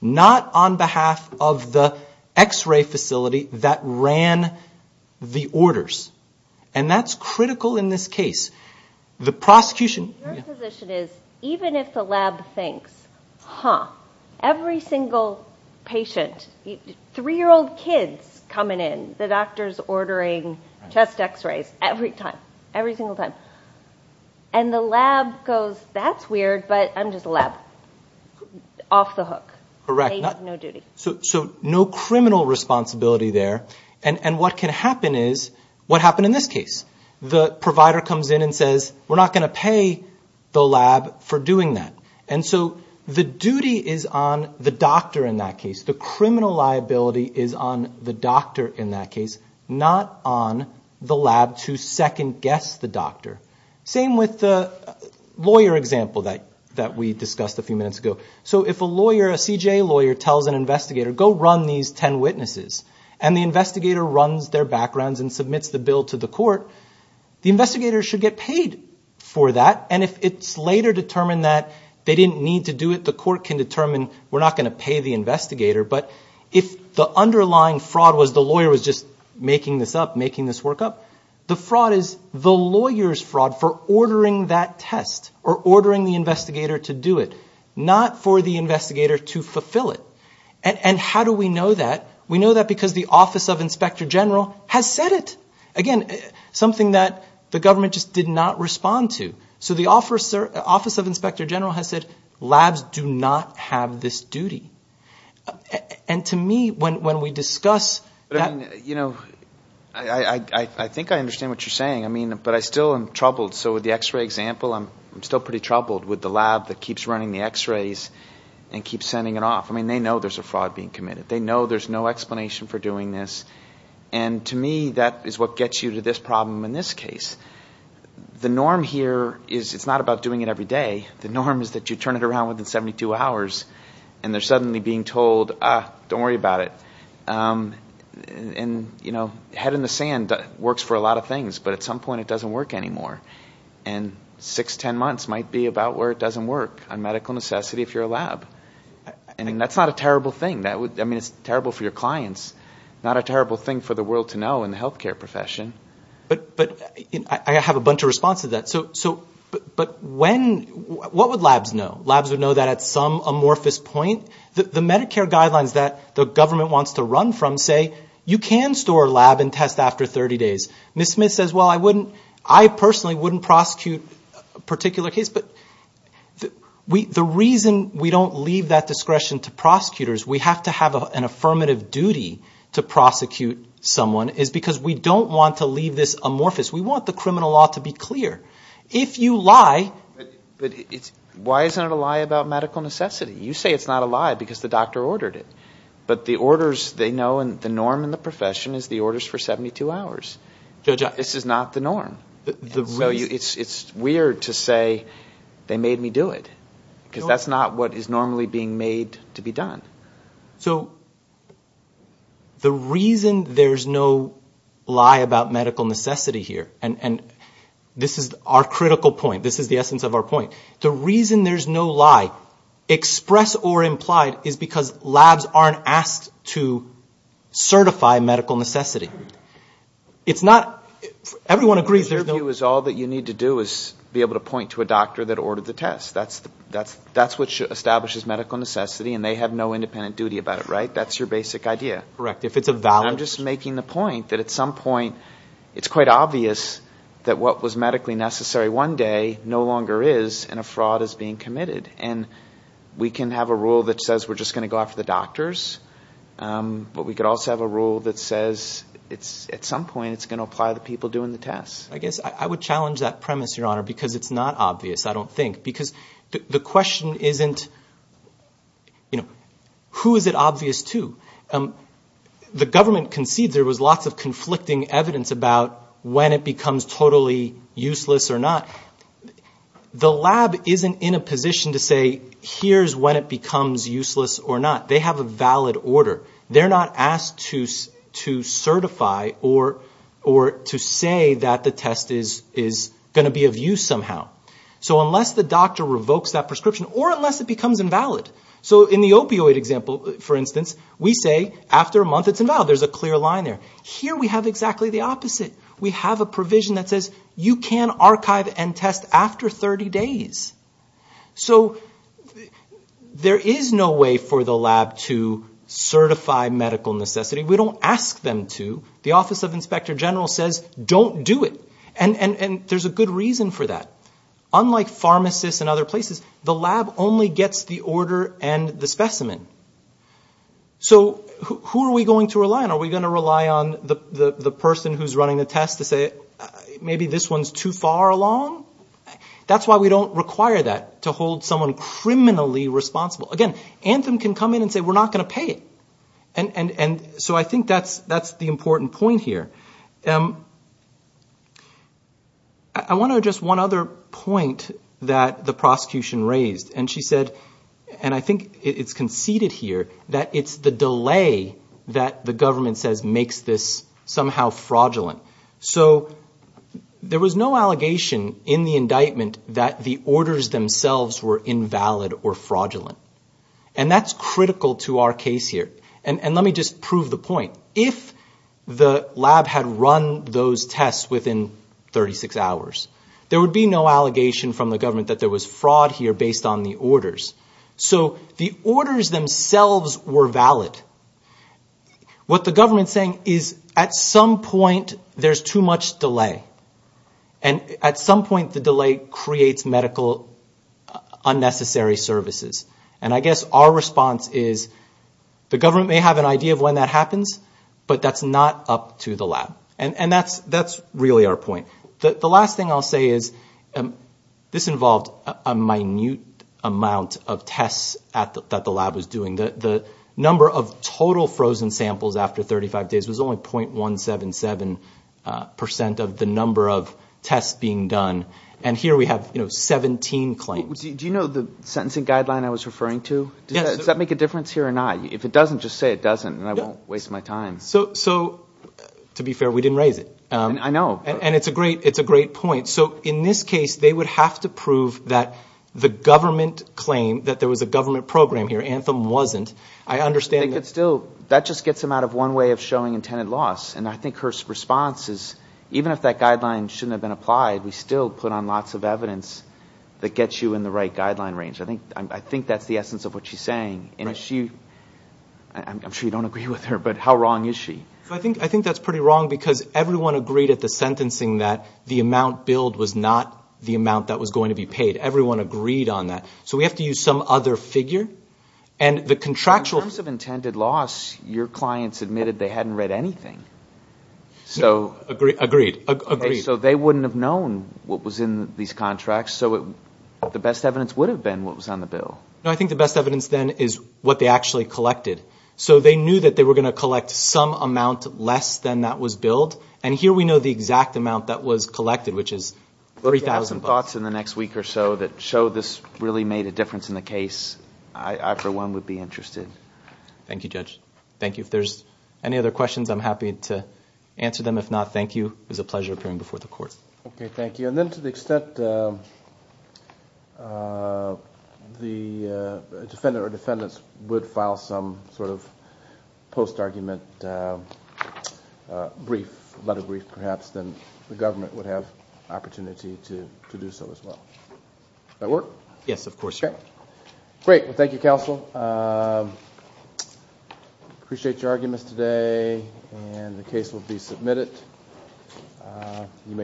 Not on behalf of the x-ray facility that ran The orders and that's critical in this case the prosecution Even if the lab thinks, huh? every single Patient three-year-old kids coming in the doctors ordering chest x-rays every time every single time and The lab goes that's weird, but I'm just a lab Off the hook correct So so no criminal responsibility there and and what can happen is what happened in this case? The provider comes in and says we're not going to pay The lab for doing that and so the duty is on the doctor in that case The criminal liability is on the doctor in that case not on the lab to second-guess the doctor same with the Example that that we discussed a few minutes ago so if a lawyer a CJA lawyer tells an investigator go run these ten witnesses and the Investigator runs their backgrounds and submits the bill to the court The investigators should get paid for that and if it's later determined that they didn't need to do it The court can determine we're not going to pay the investigator But if the underlying fraud was the lawyer was just making this up making this work up The fraud is the lawyers fraud for ordering that test or ordering the investigator to do it Not for the investigator to fulfill it and and how do we know that we know that because the office of inspector general has said It again something that the government just did not respond to so the officer office of inspector general has said Labs do not have this duty and to me when when we discuss that you know, I Think I understand what you're saying. I mean, but I still am troubled. So with the x-ray example I'm still pretty troubled with the lab that keeps running the x-rays and keep sending it off I mean, they know there's a fraud being committed. They know there's no explanation for doing this and To me that is what gets you to this problem in this case The norm here is it's not about doing it every day The norm is that you turn it around within 72 hours and they're suddenly being told don't worry about it And you know head in the sand that works for a lot of things but at some point it doesn't work anymore and Six ten months might be about where it doesn't work on medical necessity if you're a lab And that's not a terrible thing that would I mean it's terrible for your clients Not a terrible thing for the world to know in the health care profession But but I have a bunch of response to that So so but but when what would labs know labs would know that at some amorphous point? The the Medicare guidelines that the government wants to run from say you can store lab and test after 30 days Miss Smith says well, I wouldn't I personally wouldn't prosecute a particular case, but We the reason we don't leave that discretion to prosecutors We have to have an affirmative duty to prosecute someone is because we don't want to leave this amorphous We want the criminal law to be clear if you lie But it's why isn't it a lie about medical necessity you say it's not a lie because the doctor ordered it But the orders they know and the norm in the profession is the orders for 72 hours This is not the norm. So you it's it's weird to say They made me do it because that's not what is normally being made to be done. So The reason there's no Lie about medical necessity here and and this is our critical point. This is the essence of our point. The reason there's no lie Express or implied is because labs aren't asked to certify medical necessity It's not Everyone agrees. There's no view is all that you need to do is be able to point to a doctor that ordered the test That's that's that's what should establishes medical necessity and they have no independent duty about it, right? That's your basic idea, correct? If it's a valve, I'm just making the point that at some point it's quite obvious that what was medically necessary one day no longer is and a fraud is being committed and We can have a rule that says we're just going to go after the doctors But we could also have a rule that says it's at some point It's going to apply the people doing the tests I guess I would challenge that premise your honor because it's not obvious. I don't think because the question isn't You know, who is it obvious to? The government concedes there was lots of conflicting evidence about when it becomes totally useless or not The lab isn't in a position to say here's when it becomes useless or not. They have a valid order They're not asked to to certify or or to say that the test is is Going to be of use somehow. So unless the doctor revokes that prescription or unless it becomes invalid So in the opioid example, for instance, we say after a month, it's invalid. There's a clear line there here We have exactly the opposite. We have a provision that says you can archive and test after 30 days so There is no way for the lab to Certify medical necessity. We don't ask them to the Office of Inspector General says don't do it And and and there's a good reason for that Unlike pharmacists and other places the lab only gets the order and the specimen So who are we going to rely on are we going to rely on the the person who's running the test to say? Maybe this one's too far along That's why we don't require that to hold someone criminally responsible again Anthem can come in and say we're not going to pay it and and and so I think that's that's the important point here. Um, I Want to just one other point that the prosecution raised and she said and I think it's conceded here that it's the delay That the government says makes this somehow fraudulent. So there was no allegation in the indictment that the orders themselves were invalid or fraudulent and that's critical to our case here and and let me just prove the point if The lab had run those tests within 136 hours there would be no allegation from the government that there was fraud here based on the orders So the orders themselves were valid what the government saying is at some point there's too much delay and At some point the delay creates medical unnecessary services and I guess our response is The government may have an idea of when that happens But that's not up to the lab and and that's that's really our point. The last thing I'll say is this involved a minute amount of tests at the lab was doing the Number of total frozen samples after 35 days was only point one seven seven Percent of the number of tests being done and here we have, you know, 17 claims Do you know the sentencing guideline I was referring to does that make a difference here or not? If it doesn't just say it doesn't and I won't waste my time. So so To be fair. We didn't raise it. I know and it's a great it's a great point So in this case, they would have to prove that the government claim that there was a government program here anthem wasn't I understand It's still that just gets them out of one way of showing intended loss And I think her response is even if that guideline shouldn't have been applied We still put on lots of evidence that gets you in the right guideline range I think I think that's the essence of what she's saying, you know, she I'm sure you don't agree with her But how wrong is she I think I think that's pretty wrong because everyone agreed at the sentencing that the amount billed was not The amount that was going to be paid everyone agreed on that So we have to use some other figure and the contractual have intended loss your clients admitted. They hadn't read anything So agreed agreed So they wouldn't have known what was in these contracts so it the best evidence would have been what was on the bill No I think the best evidence then is what they actually Collected so they knew that they were going to collect some amount less than that was billed and here we know the exact amount that Was collected which is 3000 thoughts in the next week or so that show this really made a difference in the case. I for one would be interested Thank you judge. Thank you. If there's any other questions I'm happy to answer them. If not, thank you is a pleasure appearing before the court. Okay. Thank you. And then to the extent The defendant or defendants would file some sort of post argument Brief letter brief perhaps then the government would have opportunity to to do so as well That work. Yes, of course. Okay, great. Well, thank you counsel I Appreciate your arguments today and the case will be submitted you make